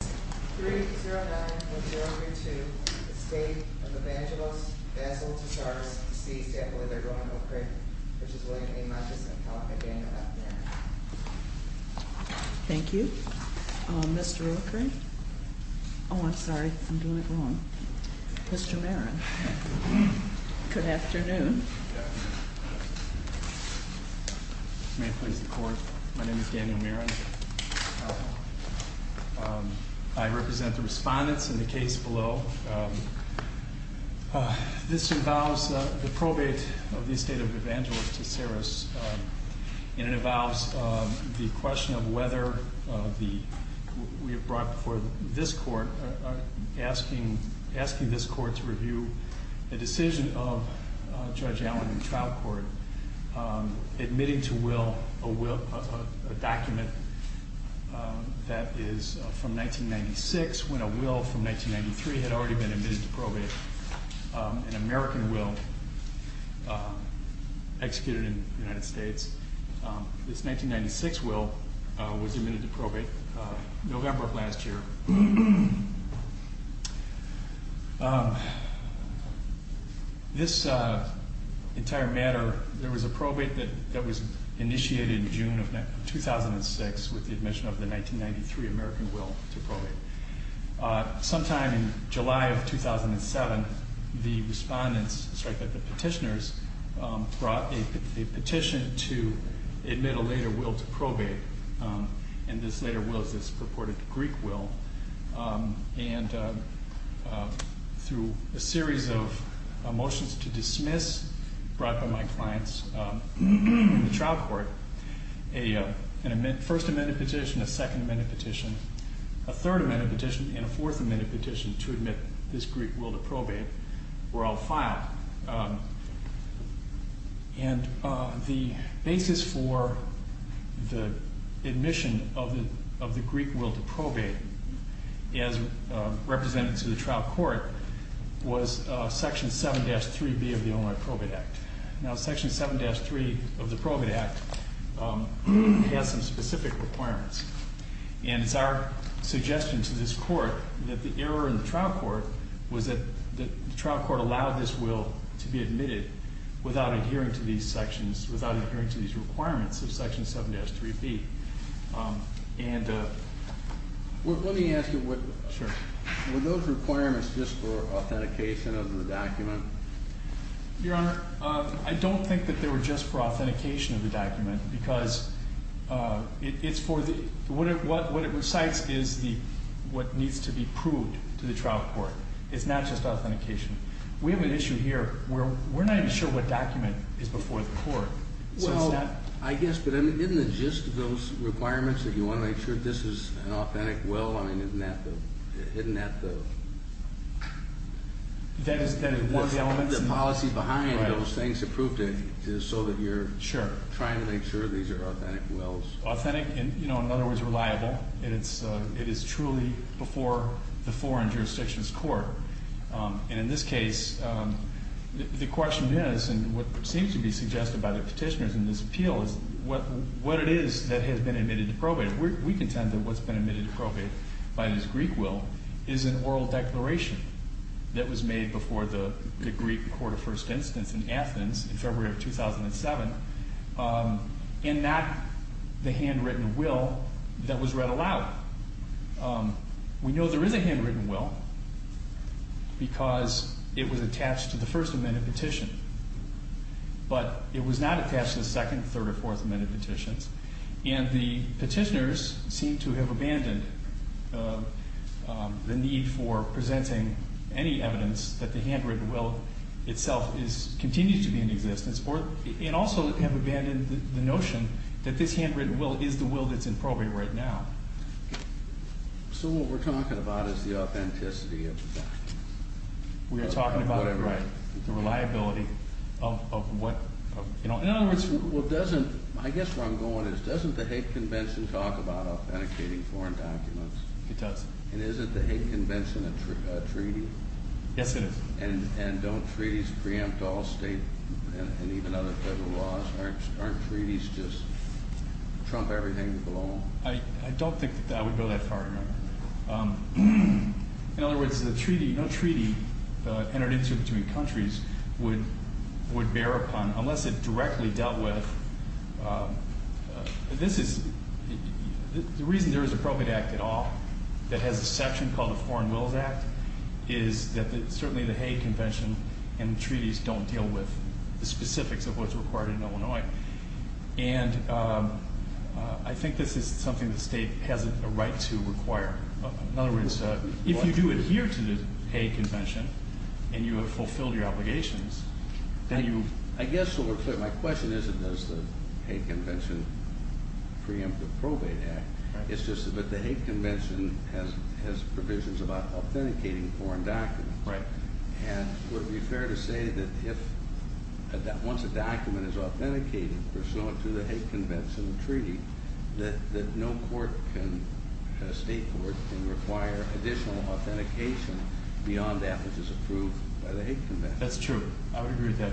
3-0-9-1-0-3-2, the state of Evangelos v. Tassaras, v. St. Louis v. Roanoke Creek, which is William A. Michas and Calica Daniel F. Marin. Thank you. Mr. O'Krieg? Oh, I'm sorry. I'm doing it wrong. Mr. Marin. Good afternoon. May I please record? My name is Daniel Marin. Calica. I represent the respondents in the case below. This involves the probate of the estate of Evangelos Tassaras, and it involves the question of whether we have brought before this court, asking this court to review the decision of Judge Allen in trial court, admitting to will a document that is from 1996, when a will from 1993 had already been admitted to probate, an American will executed in the United States. This 1996 will was admitted to probate in November of last year. This entire matter, there was a probate that was initiated in June of 2006 with the admission of the 1993 American will to probate. Sometime in July of 2007, the petitioners brought a petition to admit a later will to probate, and this later will is this purported Greek will, and through a series of motions to dismiss brought by my clients in trial court, a first amendment petition, a second amendment petition, a third amendment petition, and a fourth amendment petition to admit this Greek will to probate were all filed. And the basis for the admission of the Greek will to probate, as represented to the trial court, was section 7-3B of the Illinois Probate Act. Now section 7-3 of the Probate Act has some specific requirements, and it's our suggestion to this court that the error in the trial court was that the trial court allowed this will to be admitted without adhering to these sections, without adhering to these requirements of section 7-3B. Let me ask you, were those requirements just for authentication of the document? Your Honor, I don't think that they were just for authentication of the document, because what it recites is what needs to be proved to the trial court. It's not just authentication. We have an issue here where we're not even sure what document is before the court. Well, I guess, but isn't it just those requirements that you want to make sure this is an authentic will? I mean, isn't that the... That is one of the elements? Isn't the policy behind those things approved so that you're trying to make sure these are authentic wills? Authentic, in other words, reliable. It is truly before the foreign jurisdictions court. And in this case, the question is, and what seems to be suggested by the petitioners in this appeal, is what it is that has been admitted to probate. We contend that what's been admitted to probate by this Greek will is an oral declaration that was made before the Greek court of first instance in Athens in February of 2007, and not the handwritten will that was read aloud. We know there is a handwritten will because it was attached to the First Amendment petition, but it was not attached to the Second, Third, or Fourth Amendment petitions, and the petitioners seem to have abandoned the need for presenting any evidence that the handwritten will itself continues to be in existence, and also have abandoned the notion that this handwritten will is the will that's in probate right now. So what we're talking about is the authenticity of the document. We are talking about the reliability of what... I guess where I'm going is, doesn't the Hague Convention talk about authenticating foreign documents? It does. And isn't the Hague Convention a treaty? Yes, it is. And don't treaties preempt all state and even other federal laws? Aren't treaties just trump everything below them? I don't think that would go that far, no. In other words, no treaty entered into between countries would bear upon, unless it directly dealt with... This is... The reason there is a probate act at all, that has a section called the Foreign Wills Act, is that certainly the Hague Convention and treaties don't deal with the specifics of what's required in Illinois. And I think this is something the state has a right to require. In other words, if you do adhere to the Hague Convention, and you have fulfilled your obligations, then you... I guess, my question isn't, does the Hague Convention preempt the probate act? It's just that the Hague Convention has provisions about authenticating foreign documents. Right. And would it be fair to say that once a document is authenticated, pursuant to the Hague Convention treaty, that no state court can require additional authentication beyond that which is approved by the Hague Convention? That's true. I would agree with that.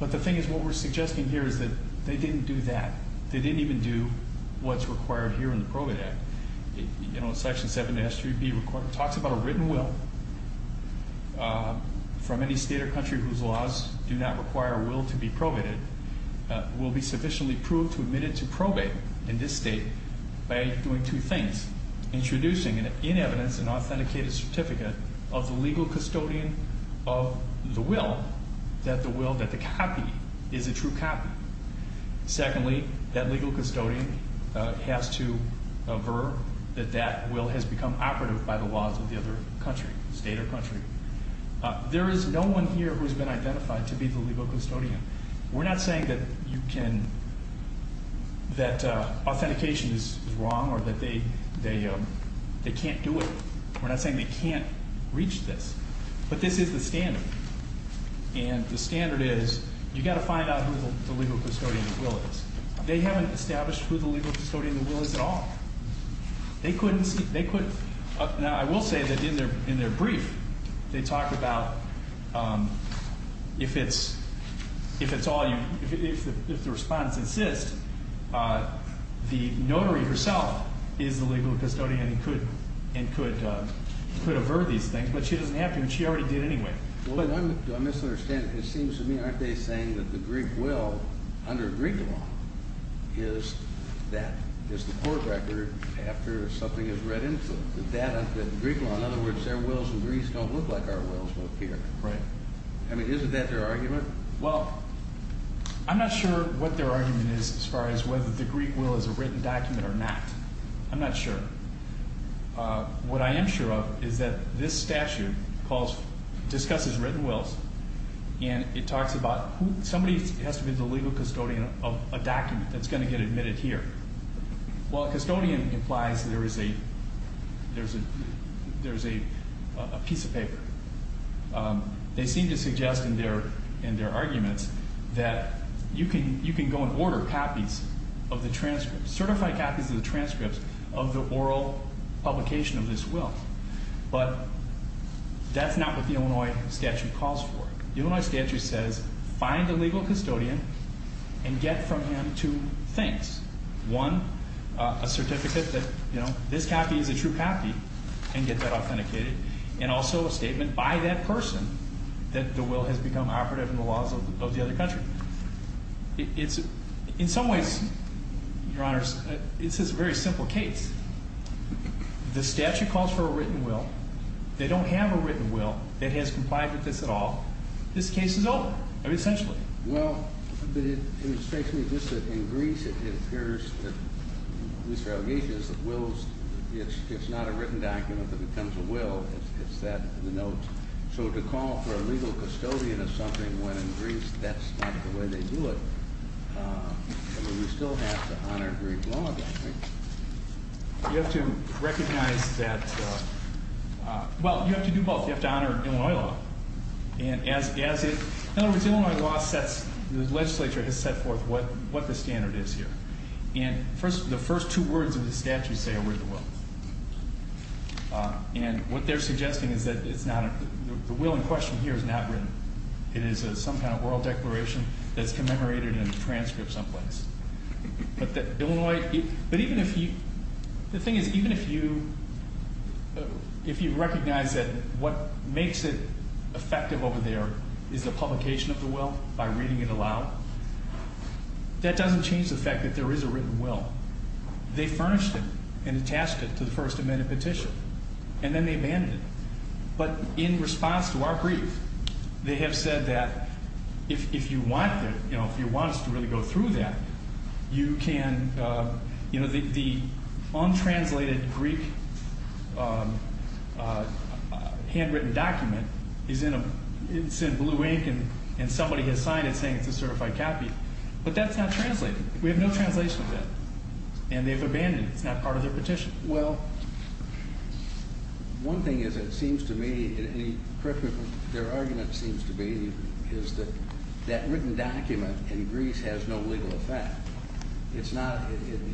But the thing is, what we're suggesting here is that they didn't do that. They didn't even do what's required here in the probate act. You know, section 7S3B talks about a written will from any state or country whose laws do not require a will to be probated will be sufficiently proved to admit it to probate in this state by doing two things. Introducing, in evidence, an authenticated certificate of the legal custodian of the will that the copy is a true copy. Secondly, that legal custodian has to aver that that will has become operative by the laws of the other country, state or country. There is no one here who has been identified to be the legal custodian. We're not saying that authentication is wrong or that they can't do it. We're not saying they can't reach this. But this is the standard. And the standard is, you've got to find out who the legal custodian of the will is. They haven't established who the legal custodian of the will is at all. They couldn't see, they couldn't. Now, I will say that in their brief, they talk about if it's all you, if the respondents insist, the notary herself is the legal custodian and could avert these things, but she doesn't have to, and she already did anyway. Well, do I misunderstand? It seems to me, aren't they saying that the Greek will, under Greek law, is that, is the court record after something is read into. In Greek law, in other words, their wills in Greece don't look like our wills here. Right. I mean, isn't that their argument? Well, I'm not sure what their argument is as far as whether the Greek will is a written document or not. I'm not sure. What I am sure of is that this statute discusses written wills, and it talks about somebody has to be the legal custodian of a document that's going to get admitted here. Well, custodian implies there is a piece of paper. They seem to suggest in their arguments that you can go and order copies of the transcripts, certified copies of the transcripts of the oral publication of this will, but that's not what the Illinois statute calls for. The Illinois statute says find a legal custodian and get from him two things. One, a certificate that, you know, this copy is a true copy, and get that authenticated, and also a statement by that person that the will has become operative in the laws of the other country. It's, in some ways, Your Honor, it's this very simple case. The statute calls for a written will. They don't have a written will that has complied with this at all. This case is over, essentially. Well, but it strikes me just that in Greece it appears that these relegations of wills, it's not a written document that becomes a will. It's that in the notes. So to call for a legal custodian of something when in Greece that's not the way they do it, I mean, we still have to honor Greek law, don't we? You have to recognize that, well, you have to do both. You have to honor Illinois law. And as it, in other words, Illinois law sets, the legislature has set forth what the standard is here. And the first two words of the statute say a written will. And what they're suggesting is that it's not, the will in question here is not written. It is some kind of oral declaration that's commemorated in a transcript someplace. But that Illinois, but even if you, the thing is even if you recognize that what makes it effective over there is the publication of the will by reading it aloud, that doesn't change the fact that there is a written will. They furnished it and attached it to the First Amendment petition. And then they abandoned it. But in response to our brief, they have said that if you want it, you know, if you want us to really go through that, you can, you know, the untranslated Greek handwritten document is in blue ink, and somebody has signed it saying it's a certified copy. But that's not translated. We have no translation of that. And they've abandoned it. It's not part of their petition. Well, one thing is it seems to me, their argument seems to be is that that written document in Greece has no legal effect. It's not,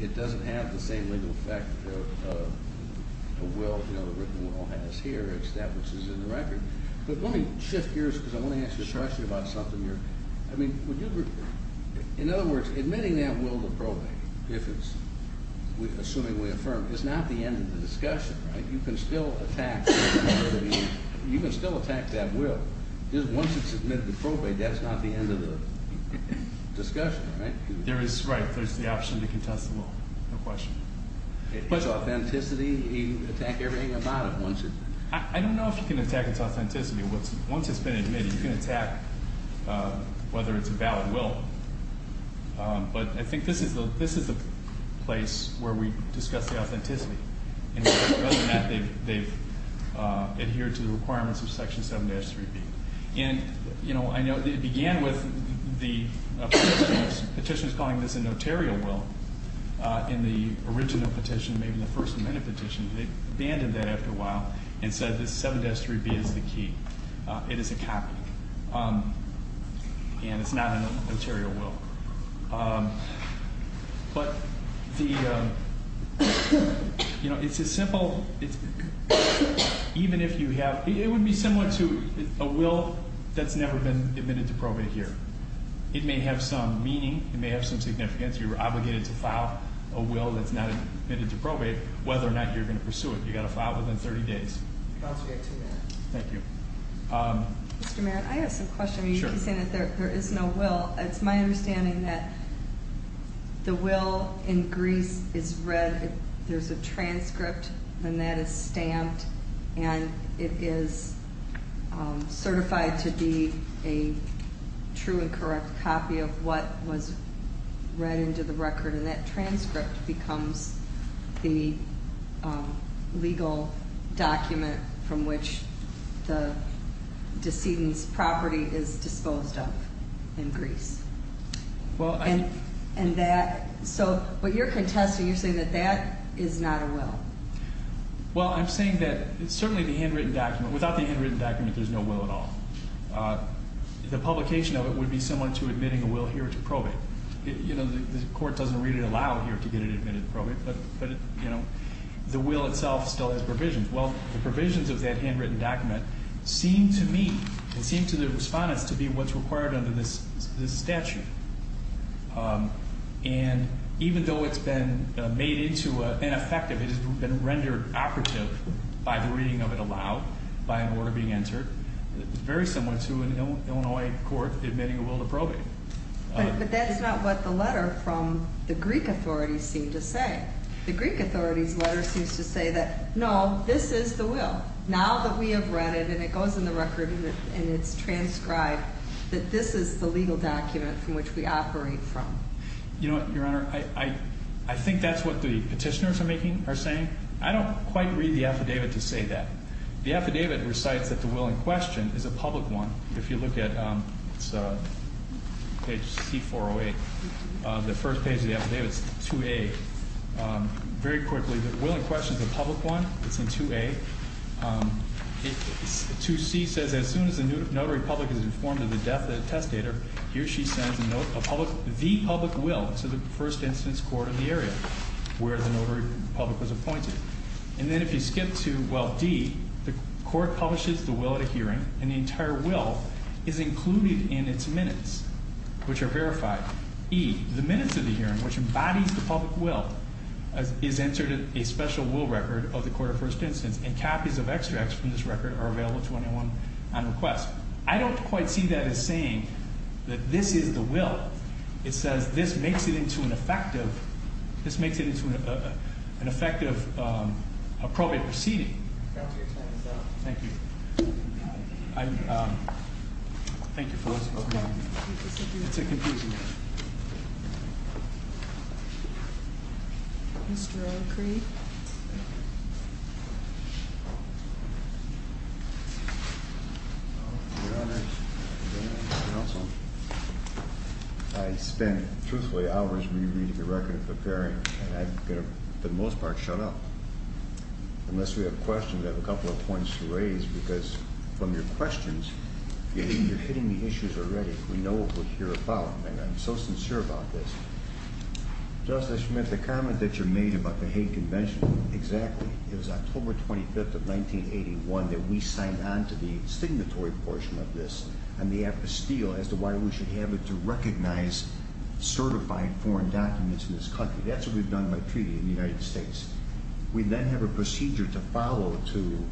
it doesn't have the same legal effect of a will, you know, the written will has here, as that which is in the record. But let me shift gears because I want to ask you a question about something here. I mean, would you, in other words, admitting that will to probate, if it's, assuming we affirm, it's not the end of the discussion, right? You can still attack, you can still attack that will. Once it's admitted to probate, that's not the end of the discussion, right? There is, right. There's the option to contest the will. No question. It's authenticity. You can attack everything about it once it. I don't know if you can attack its authenticity. Once it's been admitted, you can attack whether it's a valid will. But I think this is the place where we discuss the authenticity. And other than that, they've adhered to the requirements of Section 7-3B. And, you know, I know it began with the petitioners calling this a notarial will in the original petition, maybe the first amendment petition. They abandoned that after a while and said this 7-3B is the key. It is a copy. And it's not a notarial will. But the, you know, it's a simple, even if you have, it would be similar to a will that's never been admitted to probate here. It may have some meaning. It may have some significance. You're obligated to file a will that's not admitted to probate whether or not you're going to pursue it. You've got to file it within 30 days. Don't forget to do that. Thank you. Mr. Merritt, I have some questions. Sure. You keep saying that there is no will. It's my understanding that the will in Greece is read, there's a transcript, and that is stamped, and it is certified to be a true and correct copy of what was read into the record. And that transcript becomes the legal document from which the decedent's property is disposed of in Greece. And that, so what you're contesting, you're saying that that is not a will. Well, I'm saying that it's certainly the handwritten document. Without the handwritten document, there's no will at all. The publication of it would be similar to admitting a will here to probate. You know, the court doesn't really allow here to get it admitted to probate, but, you know, the will itself still has provisions. Well, the provisions of that handwritten document seem to me and seem to the respondents to be what's required under this statute. And even though it's been made into an effective, it has been rendered operative by the reading of it aloud, by an order being entered, it's very similar to an Illinois court admitting a will to probate. But that's not what the letter from the Greek authorities seem to say. The Greek authorities' letter seems to say that, no, this is the will. Now that we have read it and it goes in the record and it's transcribed, that this is the legal document from which we operate from. You know what, Your Honor, I think that's what the petitioners are saying. I don't quite read the affidavit to say that. The affidavit recites that the will in question is a public one. If you look at page C408, the first page of the affidavit, it's 2A. Very quickly, the will in question is a public one. It's in 2A. 2C says, as soon as the notary public is informed of the death of the testator, here she sends the public will to the first instance court of the area where the notary public was appointed. And then if you skip to, well, D, the court publishes the will at a hearing, and the entire will is included in its minutes, which are verified. E, the minutes of the hearing, which embodies the public will, is entered in a special will record of the court of first instance, and copies of extracts from this record are available to anyone on request. I don't quite see that as saying that this is the will. It says this makes it into an effective appropriate proceeding. Thank you. Thank you for listening. It's a confusing one. Mr. O'Cree? I spent, truthfully, hours rereading the record of the hearing, and I've got to, for the most part, shut up. Unless we have questions, I have a couple of points to raise, because from your questions, you're hitting the issues already. We know what we're here about, and I'm so sincere about this. Justice Schmidt, the comment that you made about the Hague Convention, exactly. It was October 25th of 1981 that we signed on to the signatory portion of this, and the apostille, as to why we should have it to recognize certified foreign documents in this country. That's what we've done by treaty in the United States. We then have a procedure to follow to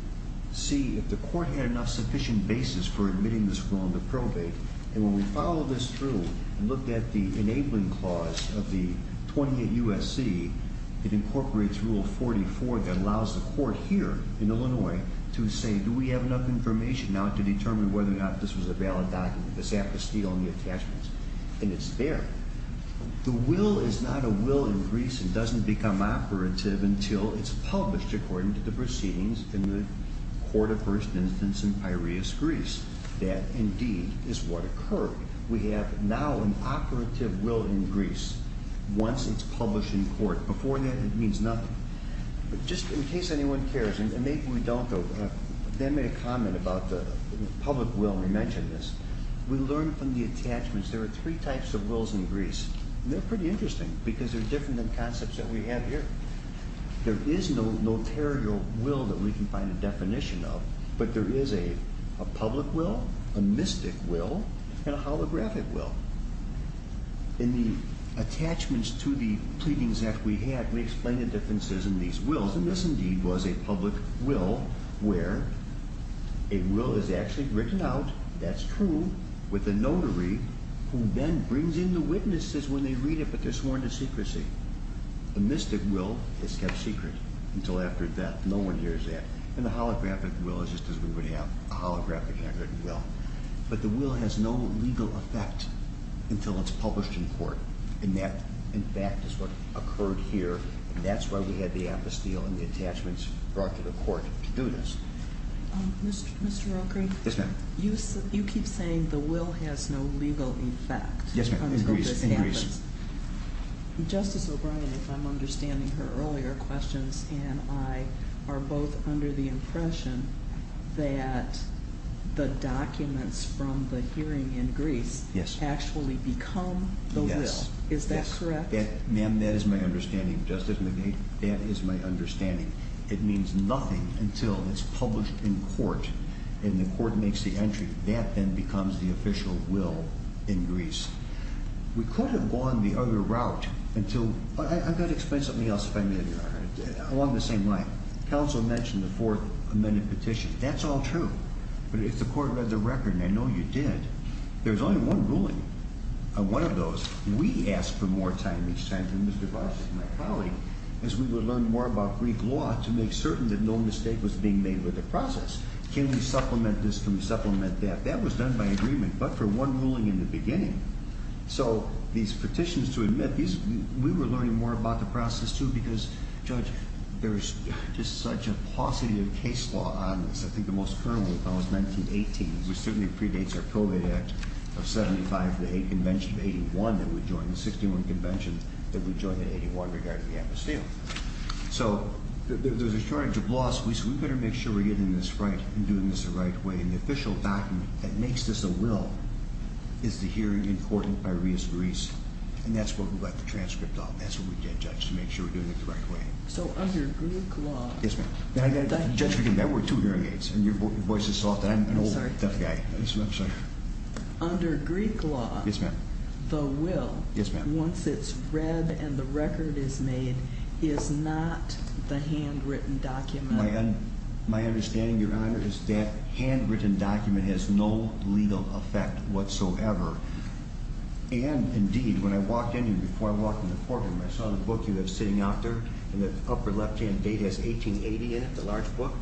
see if the court had enough sufficient basis for admitting this will into probate, and when we follow this through and look at the enabling clause of the 28 U.S.C., it incorporates Rule 44 that allows the court here in Illinois to say, do we have enough information now to determine whether or not this was a valid document, this apostille and the attachments, and it's there. The will is not a will in Greece and doesn't become operative until it's published, according to the proceedings in the court of first instance in Piraeus, Greece. That, indeed, is what occurred. We have now an operative will in Greece. Once it's published in court. Before that, it means nothing. Just in case anyone cares, and maybe we don't, but they made a comment about the public will, and we mentioned this. We learned from the attachments there are three types of wills in Greece, and they're pretty interesting because they're different than concepts that we have here. There is no notarial will that we can find a definition of, but there is a public will, a mystic will, and a holographic will. In the attachments to the pleadings that we had, we explained the differences in these wills, and this, indeed, was a public will where a will is actually written out, that's true, with a notary who then brings in the witnesses when they read it, but they're sworn to secrecy. The mystic will is kept secret until after death. No one hears that. And the holographic will is just as we would have a holographic record and will. But the will has no legal effect until it's published in court. And that, in fact, is what occurred here, and that's why we had the apostille and the attachments brought to the court to do this. Mr. Roker? Yes, ma'am. You keep saying the will has no legal effect until this happens. Yes, ma'am. In Greece. In Greece. Justice O'Brien, if I'm understanding her earlier questions, and I are both under the impression that the documents from the hearing in Greece actually become the will. Yes. Is that correct? Ma'am, that is my understanding, Justice McGee. That is my understanding. It means nothing until it's published in court and the court makes the entry. That then becomes the official will in Greece. We could have gone the other route until— I've got to explain something else if I may, Your Honor. Along the same line, counsel mentioned the fourth amended petition. That's all true. But if the court read the record, and I know you did, there's only one ruling on one of those. We asked for more time each time from Mr. Voss and my colleague as we would learn more about Greek law to make certain that no mistake was being made with the process. Can we supplement this? Can we supplement that? That was done by agreement. But for one ruling in the beginning. So these petitions, to admit, we were learning more about the process, too, because, Judge, there is just such a paucity of case law on this. I think the most current one, if I recall, is 1918, which certainly predates our COVID Act of 75, the convention of 81 that we joined, the 61 convention that we joined in 81 regarding the atmosphere. So there's a shortage of laws. We said we better make sure we're getting this right and doing this the right way. And the official document that makes this a will is the hearing in court by Reis-Greis. And that's what we got the transcript of. That's what we did, Judge, to make sure we're doing it the right way. So under Greek law- Yes, ma'am. Judge, we can bet we're two hearing aids, and your voice is soft, and I'm an old, deaf guy. I'm sorry. Under Greek law- Yes, ma'am. The will- Yes, ma'am. Once it's read and the record is made is not the handwritten document. My understanding, Your Honor, is that handwritten document has no legal effect whatsoever. And, indeed, when I walked in here before I walked in the courtroom, I saw the book you have sitting out there, and the upper left-hand date has 1880 in it, the large book.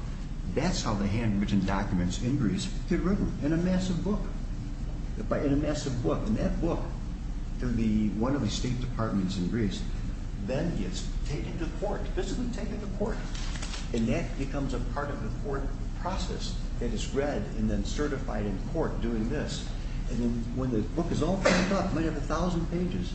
That's how the handwritten documents in Greece get written, in a massive book. In a massive book. And that book, through one of the State Departments in Greece, then gets taken to court, physically taken to court. And that becomes a part of the court process. It is read and then certified in court doing this. And then when the book is all picked up, it might have a thousand pages.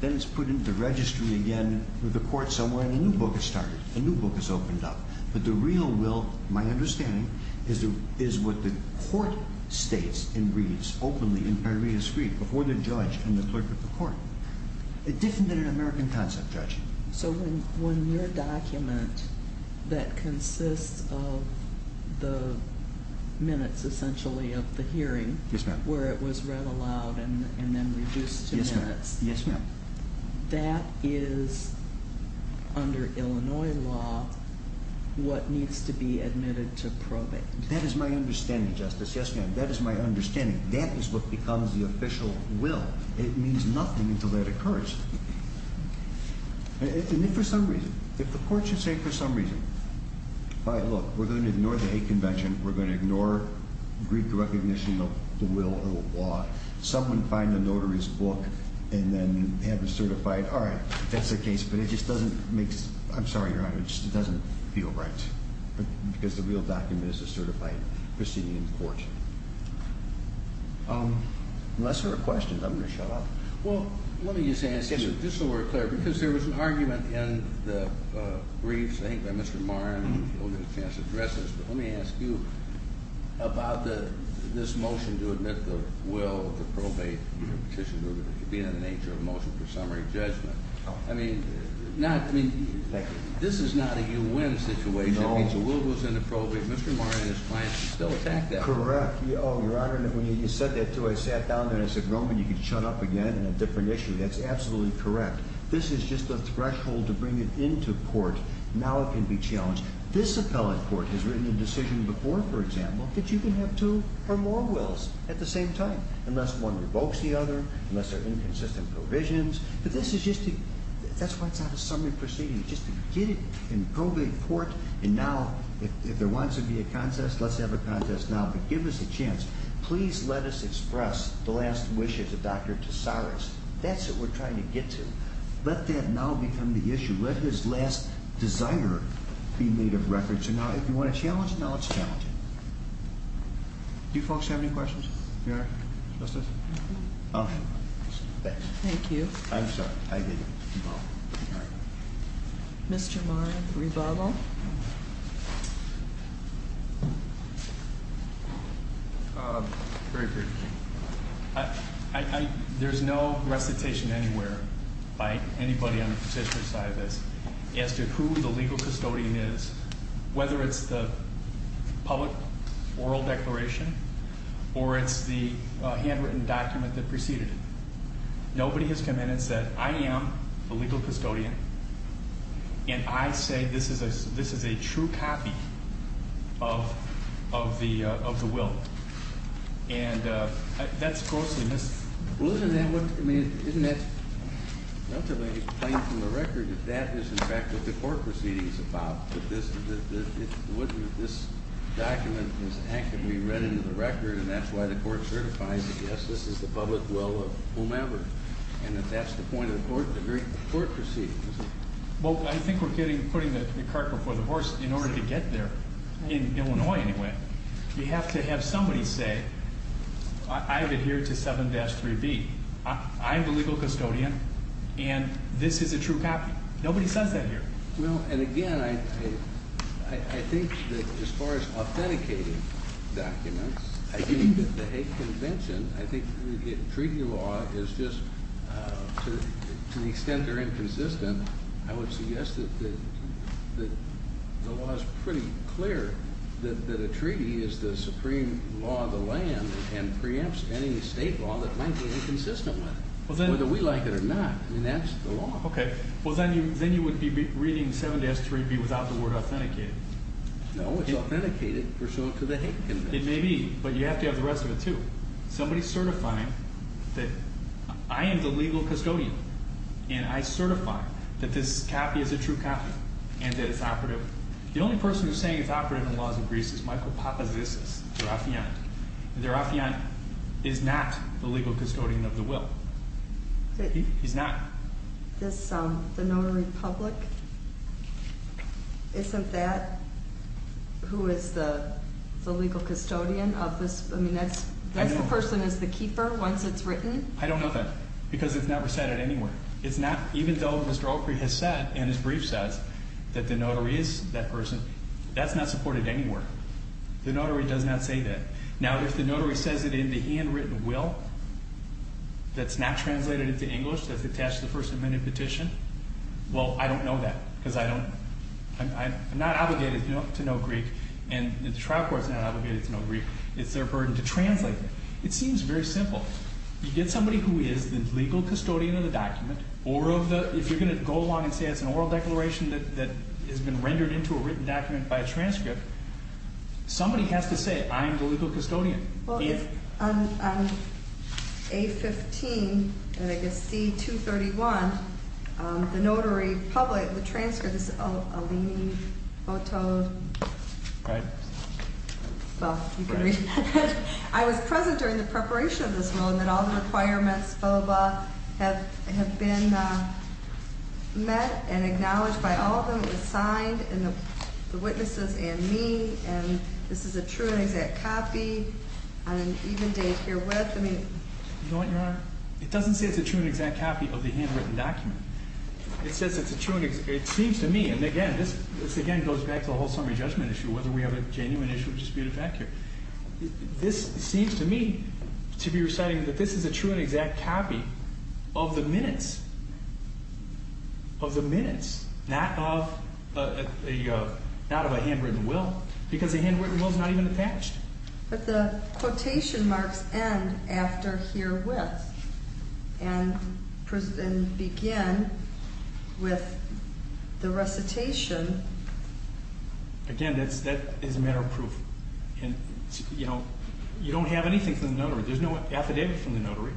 Then it's put into registry again with the court somewhere, and a new book is started. A new book is opened up. But the real will, my understanding, is what the court states and reads openly in paria script before the judge and the clerk of the court. It's different than an American concept, Judge. So when your document that consists of the minutes, essentially, of the hearing, where it was read aloud and then reduced to minutes. Yes, ma'am. That is, under Illinois law, what needs to be admitted to probate. That is my understanding, Justice. Yes, ma'am. That is my understanding. That is what becomes the official will. It means nothing until that occurs. And if for some reason, if the court should say for some reason, look, we're going to ignore the hate convention. We're going to ignore Greek recognition of the will of the law. Someone find a notary's book and then have it certified. All right, if that's the case. But it just doesn't make sense. I'm sorry, Your Honor. It just doesn't feel right. Because the real document is a certified proceeding in court. Unless there are questions, I'm going to shut up. Well, let me just ask you, just so we're clear, because there was an argument in the briefs, I think, by Mr. Moran. You'll get a chance to address this. But let me ask you about this motion to admit the will to probate. It should be in the nature of a motion for summary judgment. I mean, this is not a you win situation. It means the will goes into probate. Mr. Moran and his clients can still attack that. Correct. Oh, Your Honor, when you said that, too, I sat down there and I said, Roman, you can shut up again on a different issue. That's absolutely correct. This is just a threshold to bring it into court. Now it can be challenged. This appellate court has written a decision before, for example, that you can have two or more wills at the same time, unless one revokes the other, unless there are inconsistent provisions. But this is just to – that's why it's not a summary proceeding. It's just to get it in probate court. And now, if there wants to be a contest, let's have a contest now. But give us a chance. Please let us express the last wishes of Dr. Tesaris. That's what we're trying to get to. Let that now become the issue. Let his last desire be made of record. So now if you want to challenge it, now let's challenge it. Do you folks have any questions? Your Honor? Justice? Thank you. I'm sorry. I didn't. All right. Mr. Maran, rebuttal. Very briefly. There's no recitation anywhere by anybody on the particular side of this as to who the legal custodian is, whether it's the public oral declaration or it's the handwritten document that preceded it. Nobody has come in and said, I am the legal custodian, and I say this is a true copy of the will. And that's grossly missed. Well, isn't that what – I mean, isn't that relatively plain from the record? That is, in fact, what the court proceeding is about. That this document is actively read into the record, and that's why the court certifies that, yes, this is the public will of whomever, and that that's the point of the court proceeding. Well, I think we're putting the cart before the horse in order to get there, in Illinois anyway. You have to have somebody say, I've adhered to 7-3B. I'm the legal custodian, and this is a true copy. Nobody says that here. Well, and again, I think that as far as authenticating documents, I think that the Hague Convention, I think the treaty law is just to the extent they're inconsistent, I would suggest that the law is pretty clear that a treaty is the supreme law of the land and preempts any state law that might be inconsistent with it, whether we like it or not. I mean, that's the law. Okay. Well, then you would be reading 7-3B without the word authenticated. No, it's authenticated pursuant to the Hague Convention. It may be, but you have to have the rest of it, too. Somebody certifying that I am the legal custodian and I certify that this copy is a true copy and that it's operative. The only person who's saying it's operative in the laws of Greece is Michael Papazisis, Derafian. Derafian is not the legal custodian of the will. He's not. The notary public, isn't that who is the legal custodian of this? I mean, that person is the keeper once it's written? I don't know that because it's never said it anywhere. Even though Mr. Opry has said in his briefs that the notary is that person, that's not supported anywhere. The notary does not say that. Now, if the notary says it in the handwritten will that's not translated into English that's attached to the First Amendment petition, well, I don't know that because I'm not obligated to know Greek and the trial court's not obligated to know Greek. It's their burden to translate. It seems very simple. You get somebody who is the legal custodian of the document, or if you're going to go along and say it's an oral declaration that has been rendered into a written document by a transcript, somebody has to say, I am the legal custodian. On A15, and I guess C231, the notary public, the transcript, this is a leaning photo. Right. Well, you can read that. I was present during the preparation of this rule and that all the requirements, blah, blah, blah, have been met and acknowledged by all of them. It was signed, and the witnesses and me, and this is a true and exact copy on an even date here with me. You know what, Your Honor? It doesn't say it's a true and exact copy of the handwritten document. It says it's a true and exact copy. It seems to me, and again, this again goes back to the whole summary judgment issue, whether we have a genuine issue or disputed fact here. This seems to me to be reciting that this is a true and exact copy of the minutes, of the minutes, not of a handwritten will, because a handwritten will is not even attached. But the quotation marks end after herewith and begin with the recitation. Again, that is a matter of proof. You don't have anything from the notary. There's no affidavit from the notary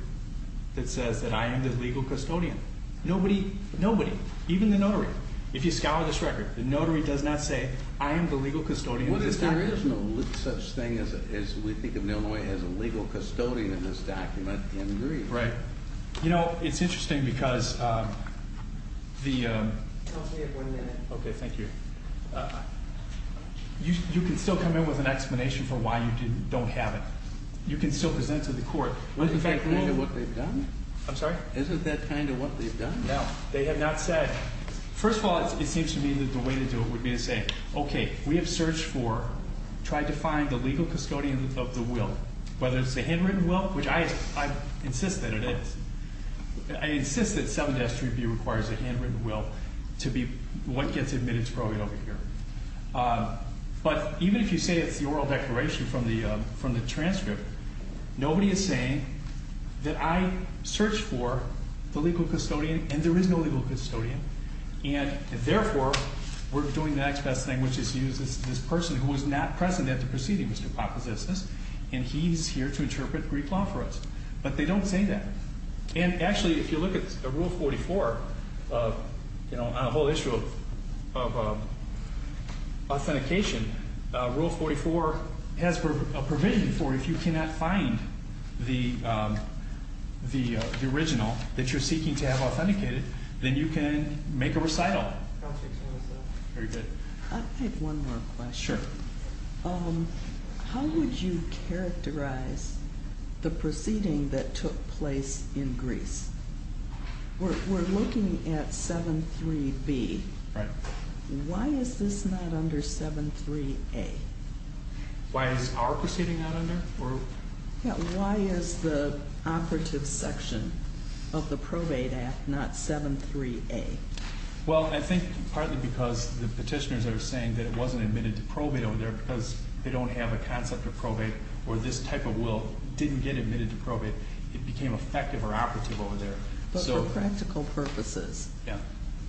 that says that I am the legal custodian. Nobody, nobody, even the notary. If you scour this record, the notary does not say I am the legal custodian of this document. There is no such thing as we think of Illinois as a legal custodian in this document in Greece. Right. You know, it's interesting because the… I'll stay here for a minute. Okay, thank you. You can still come in with an explanation for why you don't have it. You can still present to the court. Isn't that kind of what they've done? I'm sorry? Isn't that kind of what they've done? No. They have not said… First of all, it seems to me that the way to do it would be to say, okay, we have searched for, tried to find the legal custodian of the will, whether it's a handwritten will, which I insist that it is. I insist that 7S3B requires a handwritten will to be what gets admitted to Brogan over here. But even if you say it's the oral declaration from the transcript, nobody is saying that I searched for the legal custodian, and there is no legal custodian, and therefore we're doing the next best thing, which is to use this person who was not present at the proceeding, Mr. Papazisis, and he's here to interpret Greek law for us. But they don't say that. And actually, if you look at Rule 44, a whole issue of authentication, Rule 44 has a provision for if you cannot find the original that you're seeking to have authenticated, then you can make a recital. I have one more question. Sure. How would you characterize the proceeding that took place in Greece? We're looking at 7S3B. Why is this not under 7S3A? Why is our proceeding not under? Why is the operative section of the Probate Act not 7S3A? Well, I think partly because the petitioners are saying that it wasn't admitted to probate over there because they don't have a concept of probate, or this type of will didn't get admitted to probate. It became effective or operative over there. But for practical purposes,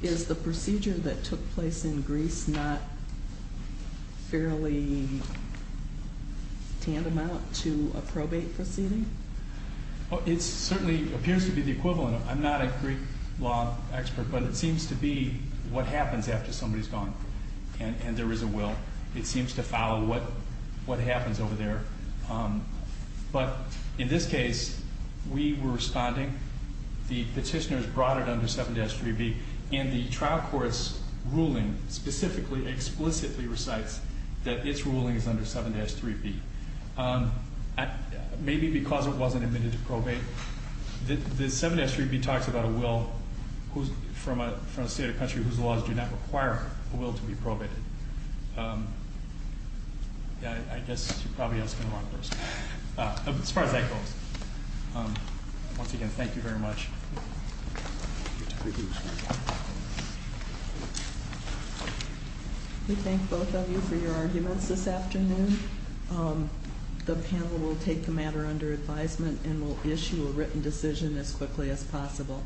is the procedure that took place in Greece not fairly tantamount to a probate proceeding? It certainly appears to be the equivalent. I'm not a Greek law expert, but it seems to be what happens after somebody's gone and there is a will. It seems to follow what happens over there. But in this case, we were responding. The petitioners brought it under 7S3B, and the trial court's ruling specifically explicitly recites that its ruling is under 7S3B. Maybe because it wasn't admitted to probate. The 7S3B talks about a will from a state or country whose laws do not require a will to be probated. I guess you're probably asking the wrong person. As far as that goes. Once again, thank you very much. We thank both of you for your arguments this afternoon. The panel will take the matter under advisement and will issue a written decision as quickly as possible.